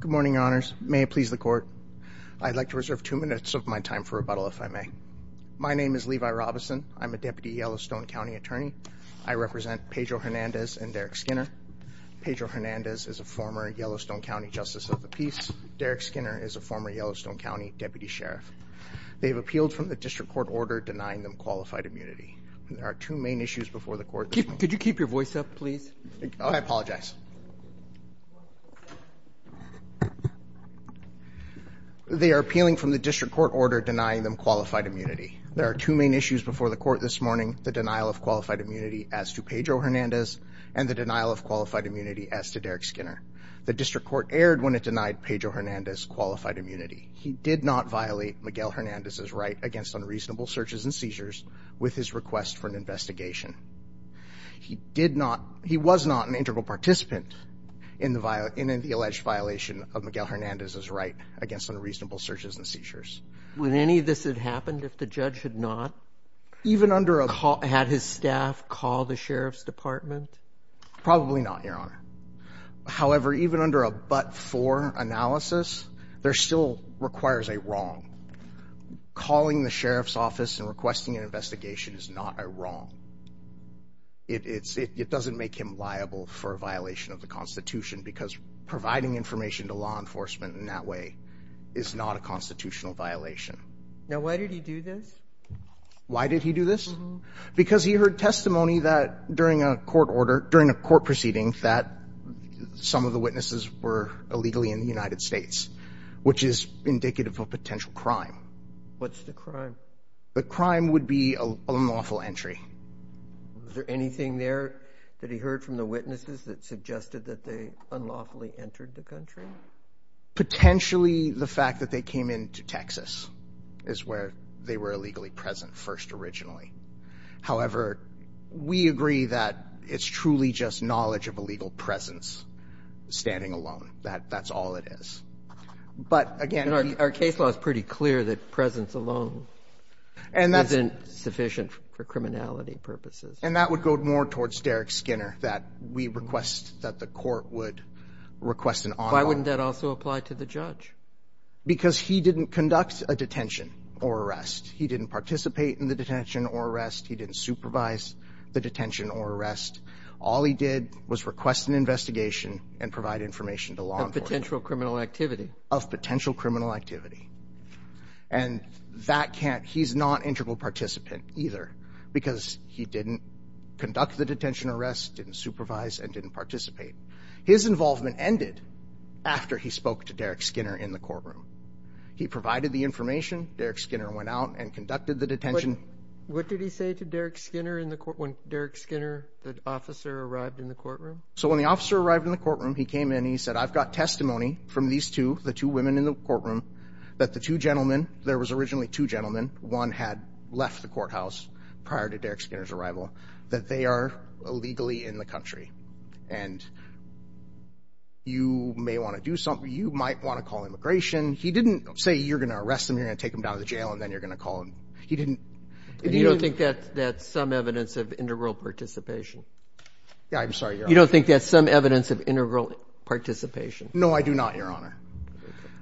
Good morning, your honors. May it please the court. I'd like to reserve two minutes of my time for rebuttal, if I may. My name is Levi Robison. I'm a deputy Yellowstone County attorney. I represent Pedro Hernandez and Derrek Skinner. Pedro Hernandez is a former Yellowstone County Justice of the Peace. Derrek Skinner is a former Yellowstone County Deputy Sheriff. They have appealed from the district court order denying them qualified immunity. There are two main issues before the court this morning. The denial of qualified immunity as to Pedro Hernandez and the denial of qualified immunity as to Derrek Skinner. The district court erred when it denied Pedro Hernandez qualified immunity. He did not violate Miguel Hernandez's right against unreasonable searches and seizures with his request for an investigation. He did not, he was not an integral participant in the alleged violation of Miguel Hernandez's right against unreasonable searches and seizures. Would any of this have happened if the judge had not had his staff call the sheriff's department? Probably not, your honor. However, even under a but-for analysis, there still requires a wrong. Calling the sheriff's office and requesting an investigation is not a wrong. It doesn't make him liable for a violation of the Constitution because providing information to law enforcement in that way is not a constitutional violation. Now, why did he do this? Why did he do this? Because he heard testimony that during a court order, during a court proceeding, that some of the witnesses were illegally in the United States. Which is indicative of potential crime. What's the crime? The crime would be an unlawful entry. Was there anything there that he heard from the witnesses that suggested that they unlawfully entered the country? Potentially, the fact that they came into Texas is where they were illegally present first originally. However, we agree that it's truly just knowledge of a legal presence standing alone. That's all it is. Our case law is pretty clear that presence alone isn't sufficient for criminality purposes. And that would go more towards Derek Skinner, that we request that the court would request an on-law. Why wouldn't that also apply to the judge? Because he didn't conduct a detention or arrest. He didn't participate in the detention or arrest. He didn't supervise the detention or arrest. All he did was request an investigation and provide information to law enforcement. Of potential criminal activity. Of potential criminal activity. And that can't, he's not integral participant either. Because he didn't conduct the detention or arrest, didn't supervise, and didn't participate. His involvement ended after he spoke to Derek Skinner in the courtroom. He provided the information. Derek Skinner went out and conducted the detention. What did he say to Derek Skinner when Derek Skinner, the officer, arrived in the courtroom? So when the officer arrived in the courtroom, he came in and he said, I've got testimony from these two, the two women in the courtroom, that the two gentlemen, there was originally two gentlemen, one had left the courthouse prior to Derek Skinner's arrival, that they are illegally in the country. And you may want to do something, you might want to call immigration. He didn't say you're going to arrest them, you're going to take them down to the jail, and then you're going to call them. He didn't. And you don't think that's some evidence of integral participation? Yeah, I'm sorry, Your Honor. You don't think that's some evidence of integral participation? No, I do not, Your Honor.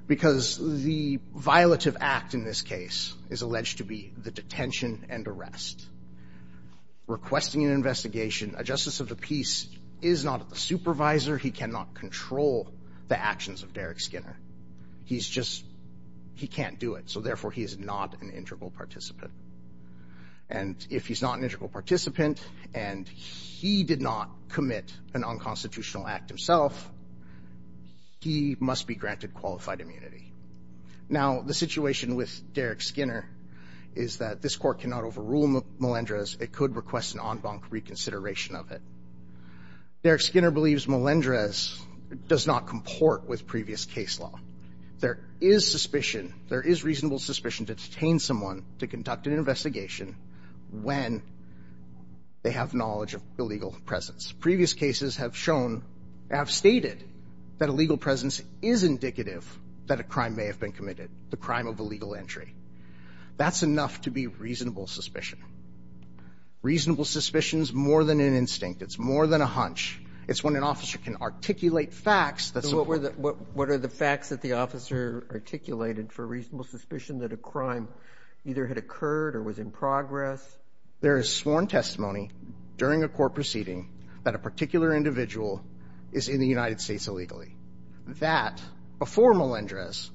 Because the violative act in this case is alleged to be the detention and arrest. Requesting an investigation, a justice of the peace is not a supervisor. He cannot control the actions of Derek Skinner. He's just, he can't do it. So, therefore, he is not an integral participant. And if he's not an integral participant and he did not commit an unconstitutional act himself, he must be granted qualified immunity. Now, the situation with Derek Skinner is that this court cannot overrule Melendrez. It could request an en banc reconsideration of it. Derek Skinner believes Melendrez does not comport with previous case law. There is suspicion, there is reasonable suspicion to detain someone to conduct an investigation when they have knowledge of illegal presence. Previous cases have shown, have stated, that illegal presence is indicative that a crime may have been committed, the crime of illegal entry. That's enough to be reasonable suspicion. Reasonable suspicion is more than an instinct. It's more than a hunch. It's when an officer can articulate facts that support it. What are the facts that the officer articulated for reasonable suspicion that a crime either had occurred or was in progress? There is sworn testimony during a court proceeding that a particular individual is in the United States illegally. That, before Melendrez,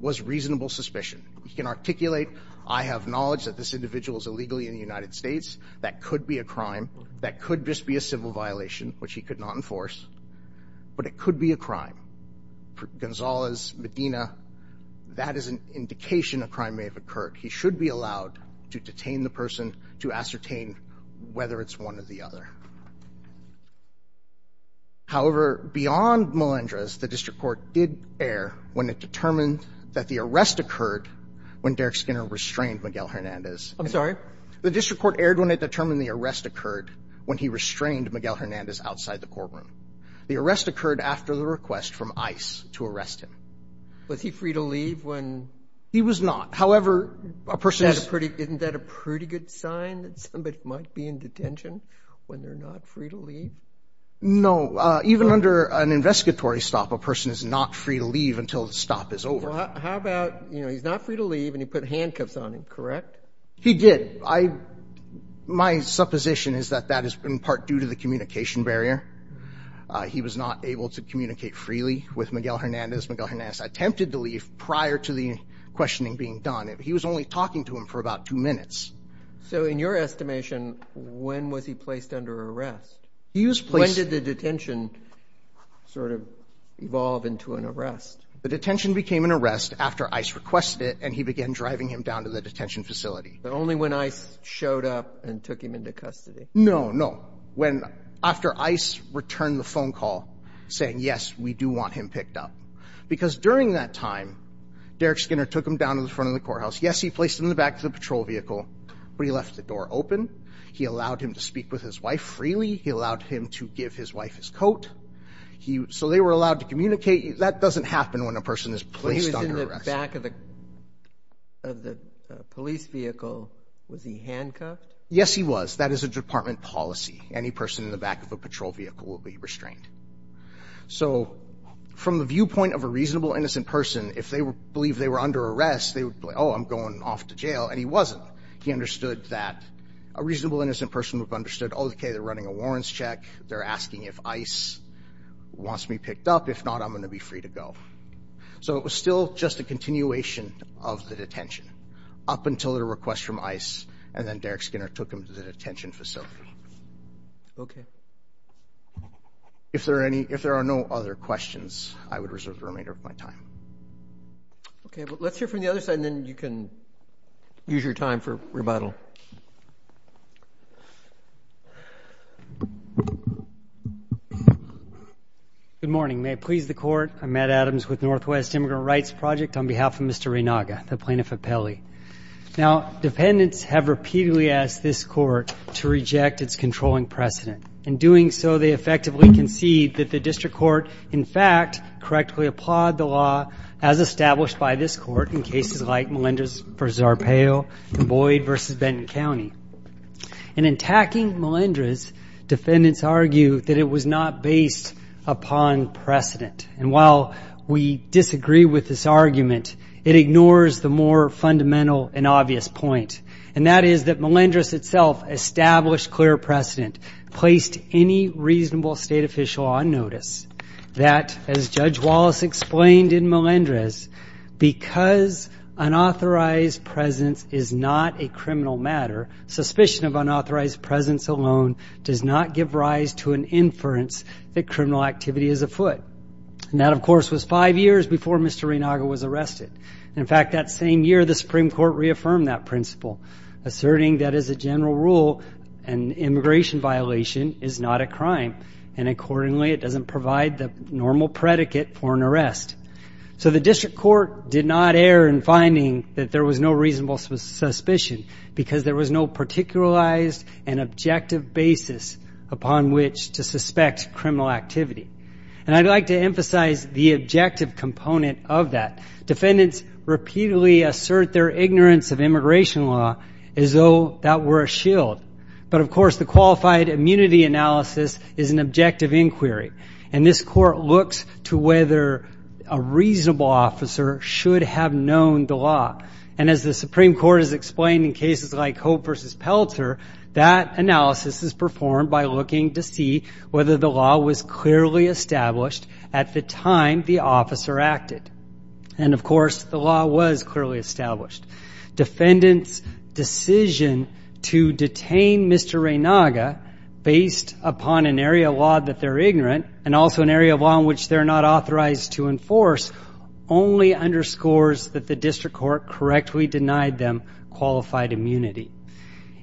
was reasonable suspicion. He can articulate, I have knowledge that this individual is illegally in the United States. That could be a crime. That could just be a civil violation, which he could not enforce. But it could be a crime. Gonzalez, Medina, that is an indication a crime may have occurred. He should be allowed to detain the person to ascertain whether it's one or the other. However, beyond Melendrez, the district court did err when it determined that the arrest occurred when Derek Skinner restrained Miguel Hernandez. I'm sorry? The district court erred when it determined the arrest occurred when he restrained Miguel Hernandez outside the courtroom. The arrest occurred after the request from ICE to arrest him. Was he free to leave when he was not? However, a person is— Isn't that a pretty good sign that somebody might be in detention when they're not free to leave? No. Even under an investigatory stop, a person is not free to leave until the stop is over. How about he's not free to leave and he put handcuffs on him, correct? He did. My supposition is that that is in part due to the communication barrier. He was not able to communicate freely with Miguel Hernandez. Miguel Hernandez attempted to leave prior to the questioning being done. He was only talking to him for about two minutes. So in your estimation, when was he placed under arrest? When did the detention sort of evolve into an arrest? The detention became an arrest after ICE requested it, and he began driving him down to the detention facility. But only when ICE showed up and took him into custody? No, no. After ICE returned the phone call saying, yes, we do want him picked up. Because during that time, Derek Skinner took him down to the front of the courthouse. Yes, he placed him in the back of the patrol vehicle, but he left the door open. He allowed him to speak with his wife freely. He allowed him to give his wife his coat. So they were allowed to communicate. That doesn't happen when a person is placed under arrest. He was in the back of the police vehicle. Was he handcuffed? Yes, he was. That is a department policy. Any person in the back of a patrol vehicle will be restrained. So from the viewpoint of a reasonable, innocent person, if they believe they were under arrest, they would be like, oh, I'm going off to jail. And he wasn't. He understood that a reasonable, innocent person would have understood, oh, okay, they're running a warrants check. They're asking if ICE wants me picked up. If not, I'm going to be free to go. So it was still just a continuation of the detention up until the request from ICE, and then Derek Skinner took him to the detention facility. Okay. If there are no other questions, I would reserve the remainder of my time. Okay. Let's hear from the other side, and then you can use your time for rebuttal. Good morning. May it please the Court, I'm Matt Adams with Northwest Immigrant Rights Project. On behalf of Mr. Renaga, the Plaintiff appellee. Now, defendants have repeatedly asked this court to reject its controlling precedent. In doing so, they effectively concede that the district court, in fact, correctly applied the law as established by this court in cases like Melendrez v. Arpaio and Boyd v. Benton County. In attacking Melendrez, defendants argue that it was not based upon precedent. And while we disagree with this argument, it ignores the more fundamental and obvious point, and that is that Melendrez itself established clear precedent, placed any reasonable state official on notice that, as Judge Wallace explained in Melendrez, because unauthorized presence is not a criminal matter, suspicion of unauthorized presence alone does not give rise to an inference that criminal activity is afoot. And that, of course, was five years before Mr. Renaga was arrested. In fact, that same year, the Supreme Court reaffirmed that principle, asserting that, as a general rule, an immigration violation is not a crime, and accordingly it doesn't provide the normal predicate for an arrest. So the district court did not err in finding that there was no reasonable suspicion because there was no particularized and objective basis upon which to suspect criminal activity. And I'd like to emphasize the objective component of that. Defendants repeatedly assert their ignorance of immigration law as though that were a shield. But, of course, the qualified immunity analysis is an objective inquiry, and this court looks to whether a reasonable officer should have known the law. And as the Supreme Court has explained in cases like Hope v. Pelter, that analysis is performed by looking to see whether the law was clearly established at the time the officer acted. And, of course, the law was clearly established. Defendants' decision to detain Mr. Renaga based upon an area of law that they're ignorant and also an area of law in which they're not authorized to enforce only underscores that the district court correctly denied them qualified immunity.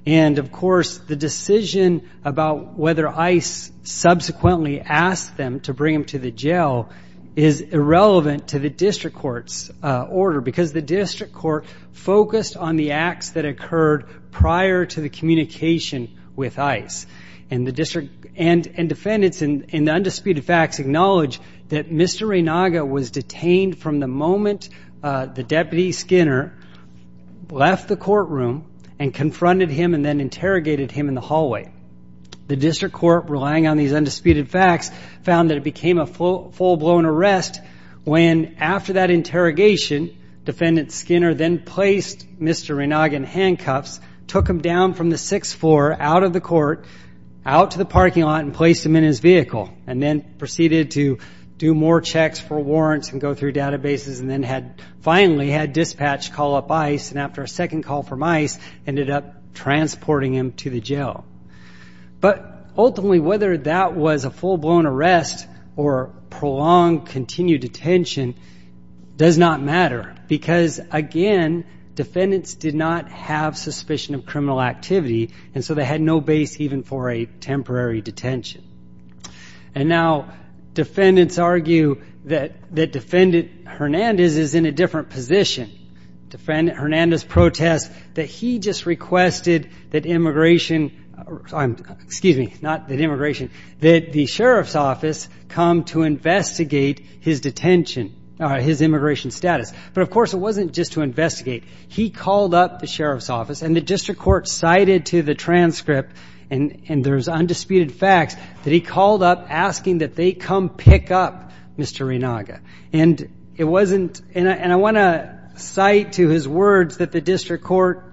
And, of course, the decision about whether ICE subsequently asked them to bring him to the jail is irrelevant to the district court's order, because the district court focused on the acts that occurred prior to the communication with ICE. And defendants in the undisputed facts acknowledge that Mr. Renaga was detained from the moment the deputy Skinner left the courtroom and confronted him and then interrogated him in the hallway. The district court, relying on these undisputed facts, found that it became a full-blown arrest when, after that interrogation, took him down from the sixth floor, out of the court, out to the parking lot, and placed him in his vehicle and then proceeded to do more checks for warrants and go through databases and then finally had dispatch call up ICE and, after a second call from ICE, ended up transporting him to the jail. But, ultimately, whether that was a full-blown arrest or prolonged, continued detention does not matter, because, again, defendants did not have suspicion of criminal activity, and so they had no base even for a temporary detention. And now defendants argue that Defendant Hernandez is in a different position. Defendant Hernandez protests that he just requested that immigration excuse me, not that immigration, that the sheriff's office come to investigate his detention, his immigration status. But, of course, it wasn't just to investigate. He called up the sheriff's office, and the district court cited to the transcript, and there's undisputed facts, that he called up asking that they come pick up Mr. Renaga. And it wasn't, and I want to cite to his words that the district court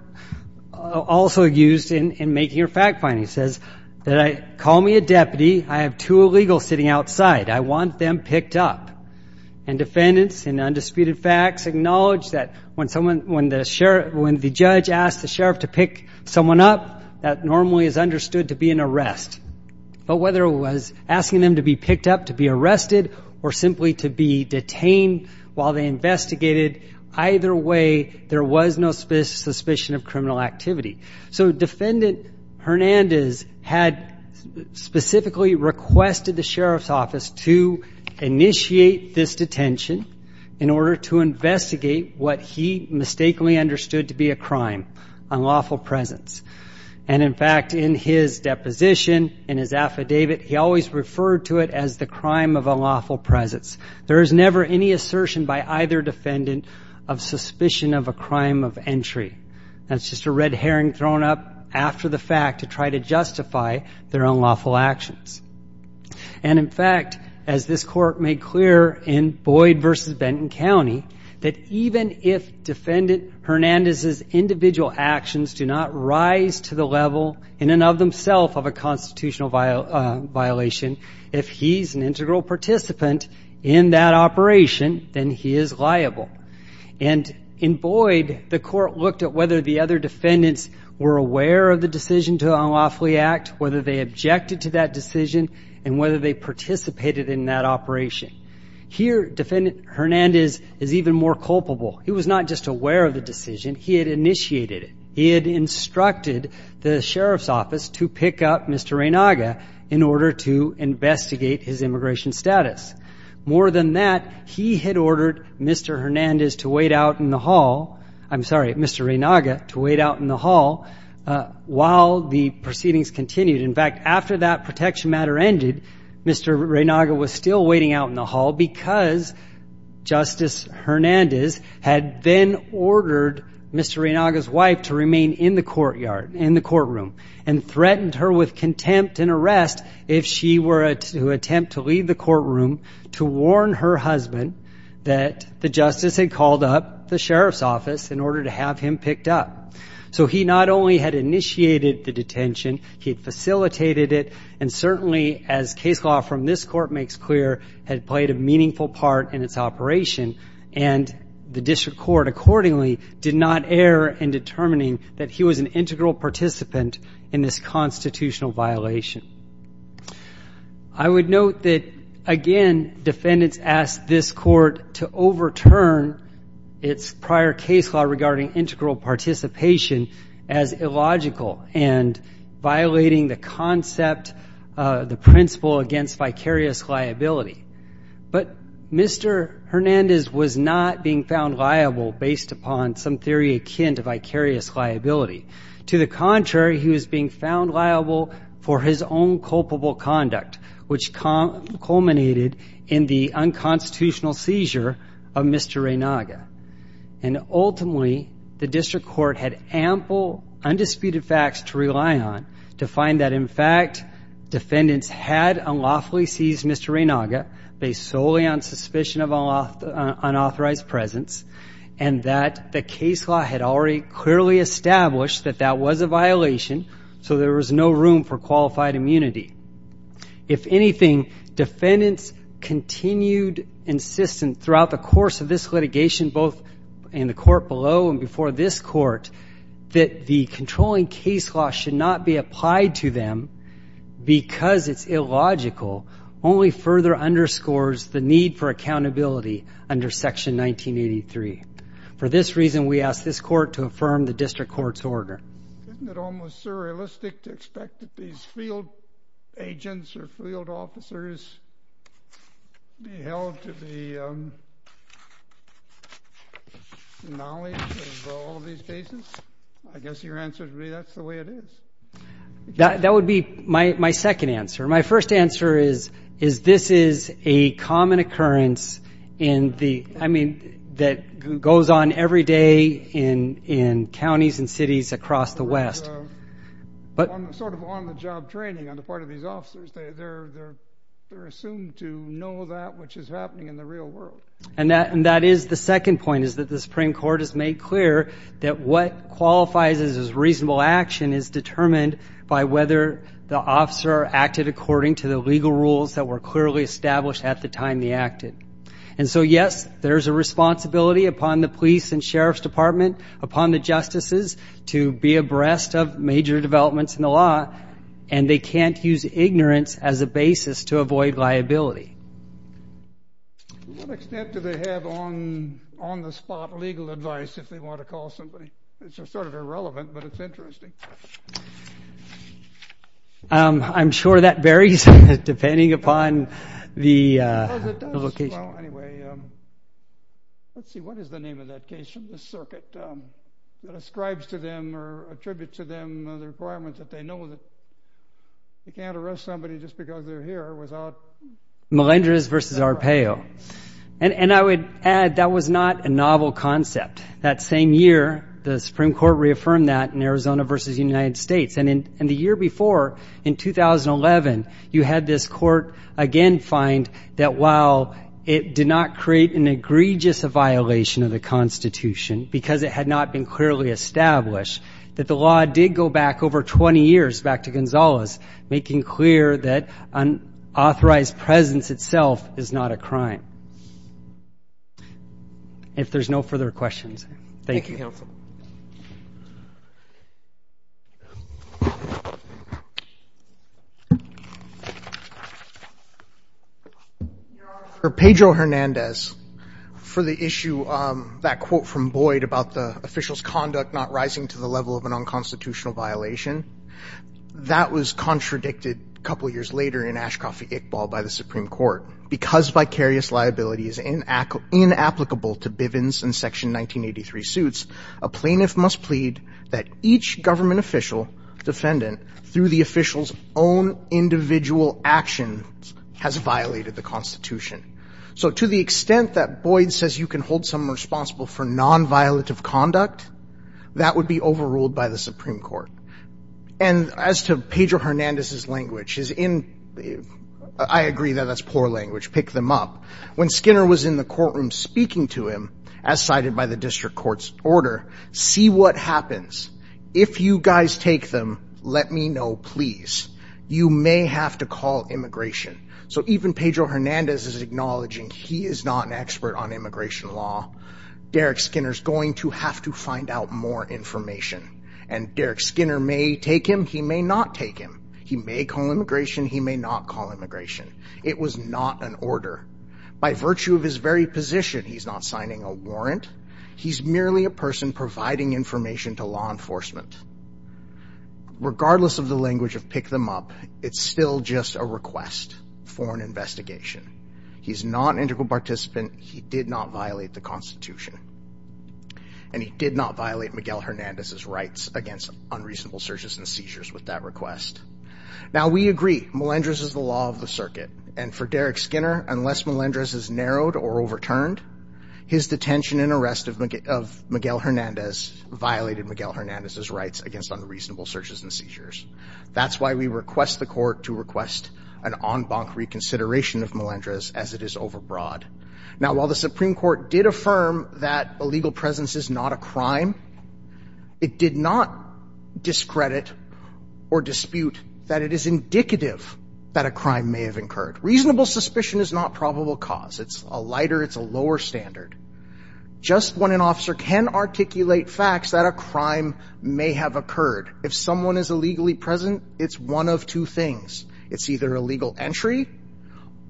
also used in making a fact finding. It says, that I, call me a deputy, I have two illegals sitting outside, I want them picked up. And defendants, in undisputed facts, acknowledge that when someone, when the sheriff, when the judge asked the sheriff to pick someone up, that normally is understood to be an arrest. But whether it was asking them to be picked up, to be arrested, or simply to be detained while they investigated, either way, there was no suspicion of criminal activity. So Defendant Hernandez had specifically requested the sheriff's office to initiate this detention, in order to investigate what he mistakenly understood to be a crime, unlawful presence. And, in fact, in his deposition, in his affidavit, he always referred to it as the crime of unlawful presence. There is never any assertion by either defendant of suspicion of a crime of entry. That's just a red herring thrown up after the fact to try to justify their unlawful actions. And, in fact, as this court made clear in Boyd v. Benton County, that even if Defendant Hernandez's individual actions do not rise to the level, in and of themselves, of a constitutional violation, if he's an integral participant in that operation, then he is liable. And in Boyd, the court looked at whether the other defendants were aware of the decision to unlawfully act, whether they objected to that decision, and whether they participated in that operation. Here, Defendant Hernandez is even more culpable. He was not just aware of the decision. He had initiated it. He had instructed the sheriff's office to pick up Mr. Reynaga in order to investigate his immigration status. More than that, he had ordered Mr. Hernandez to wait out in the hall. I'm sorry, Mr. Reynaga, to wait out in the hall while the proceedings continued. In fact, after that protection matter ended, Mr. Reynaga was still waiting out in the hall because Justice Hernandez had then ordered Mr. Reynaga's wife to remain in the courtroom and threatened her with contempt and arrest if she were to attempt to leave the courtroom to warn her husband that the justice had called up the sheriff's office in order to have him picked up. So he not only had initiated the detention, he had facilitated it, and certainly, as case law from this court makes clear, had played a meaningful part in its operation, and the district court accordingly did not err in determining that he was an integral participant in this constitutional violation. I would note that, again, defendants asked this court to overturn its prior case law regarding integral participation as illogical and violating the concept, the principle against vicarious liability. But Mr. Hernandez was not being found liable based upon some theory akin to vicarious liability. To the contrary, he was being found liable for his own culpable conduct, which culminated in the unconstitutional seizure of Mr. Reynaga. And ultimately, the district court had ample undisputed facts to rely on to find that, in fact, defendants had unlawfully seized Mr. Reynaga based solely on suspicion of unauthorized presence and that the case law had already clearly established that that was a violation, so there was no room for qualified immunity. If anything, defendants continued insistent throughout the course of this litigation, both in the court below and before this court, that the controlling case law should not be applied to them because it's illogical only further underscores the need for accountability under Section 1983. For this reason, we ask this court to affirm the district court's order. Isn't it almost surrealistic to expect that these field agents or field officers be held to the knowledge of all these cases? I guess your answer would be that's the way it is. That would be my second answer. My first answer is this is a common occurrence that goes on every day in counties and cities across the West. Sort of on the job training on the part of these officers, they're assumed to know that which is happening in the real world. And that is the second point, is that the Supreme Court has made clear that what qualifies as reasonable action is determined by whether the officer acted according to the legal rules that were clearly established at the time they acted. And so, yes, there's a responsibility upon the police and sheriff's department, upon the justices, to be abreast of major developments in the law, and they can't use ignorance as a basis to avoid liability. To what extent do they have on-the-spot legal advice if they want to call somebody? It's sort of irrelevant, but it's interesting. I'm sure that varies depending upon the location. Well, anyway, let's see. What is the name of that case from the circuit that ascribes to them or attributes to them the requirements that they know that they can't arrest somebody just because they're here without- Melendrez versus Arpaio. And I would add that was not a novel concept. That same year, the Supreme Court reaffirmed that in Arizona versus the United States. And the year before, in 2011, you had this court again find that while it did not create an egregious violation of the Constitution because it had not been clearly established, that the law did go back over 20 years, back to Gonzales, making clear that an authorized presence itself is not a crime. If there's no further questions, thank you. Thank you, Counsel. Your Honor, for Pedro Hernandez, for the issue, that quote from Boyd about the official's conduct not rising to the level of an unconstitutional violation, that was contradicted a couple years later in Ashcoff v. Iqbal by the Supreme Court because vicarious liability is inapplicable to Bivens and Section 1983 suits, a plaintiff must plead that each government official defendant, through the official's own individual actions, has violated the Constitution. So to the extent that Boyd says you can hold someone responsible for nonviolative conduct, that would be overruled by the Supreme Court. And as to Pedro Hernandez's language, I agree that that's poor language, pick them up. When Skinner was in the courtroom speaking to him, as cited by the district court's order, see what happens. If you guys take them, let me know, please. You may have to call immigration. So even Pedro Hernandez is acknowledging he is not an expert on immigration law. Derek Skinner's going to have to find out more information. And Derek Skinner may take him, he may not take him. He may call immigration, he may not call immigration. It was not an order. By virtue of his very position, he's not signing a warrant. He's merely a person providing information to law enforcement. Regardless of the language of pick them up, it's still just a request for an investigation. He's not an integral participant, he did not violate the Constitution. And he did not violate Miguel Hernandez's rights against unreasonable searches and seizures with that request. Now, we agree, Melendrez is the law of the circuit. And for Derek Skinner, unless Melendrez is narrowed or overturned, his detention and arrest of Miguel Hernandez violated Miguel Hernandez's rights against unreasonable searches and seizures. That's why we request the court to request an en banc reconsideration of Melendrez as it is overbroad. Now, while the Supreme Court did affirm that illegal presence is not a crime, it did not discredit or dispute that it is indicative that a crime may have occurred. Reasonable suspicion is not probable cause. It's a lighter, it's a lower standard. Just when an officer can articulate facts that a crime may have occurred, if someone is illegally present, it's one of two things. It's either illegal entry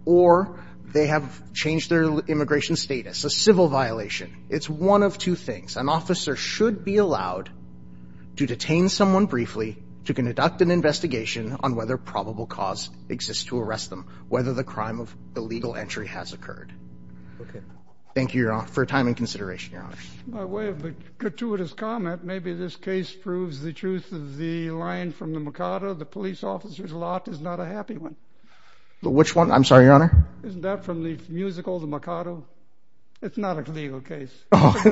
or they have changed their immigration status, a civil violation. It's one of two things. An officer should be allowed to detain someone briefly to conduct an investigation on whether probable cause exists to arrest them, whether the crime of illegal entry has occurred. Thank you, Your Honor, for your time and consideration, Your Honor. By way of a gratuitous comment, maybe this case proves the truth of the line from the Mikado, the police officer's lot is not a happy one. Which one? I'm sorry, Your Honor. Isn't that from the musical, the Mikado? It's not a legal case. I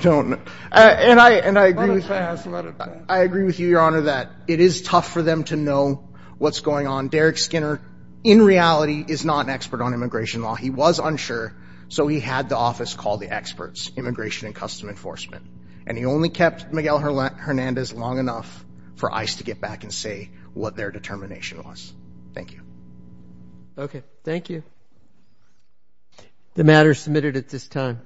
don't know. Let it pass. Let it pass. I agree with you, Your Honor, that it is tough for them to know what's going on. Derek Skinner, in reality, is not an expert on immigration law. He was unsure, so he had the office call the experts, Immigration and Custom Enforcement, and he only kept Miguel Hernandez long enough for ICE to get back and say what their determination was. Thank you. Okay. Thank you. The matter is submitted at this time.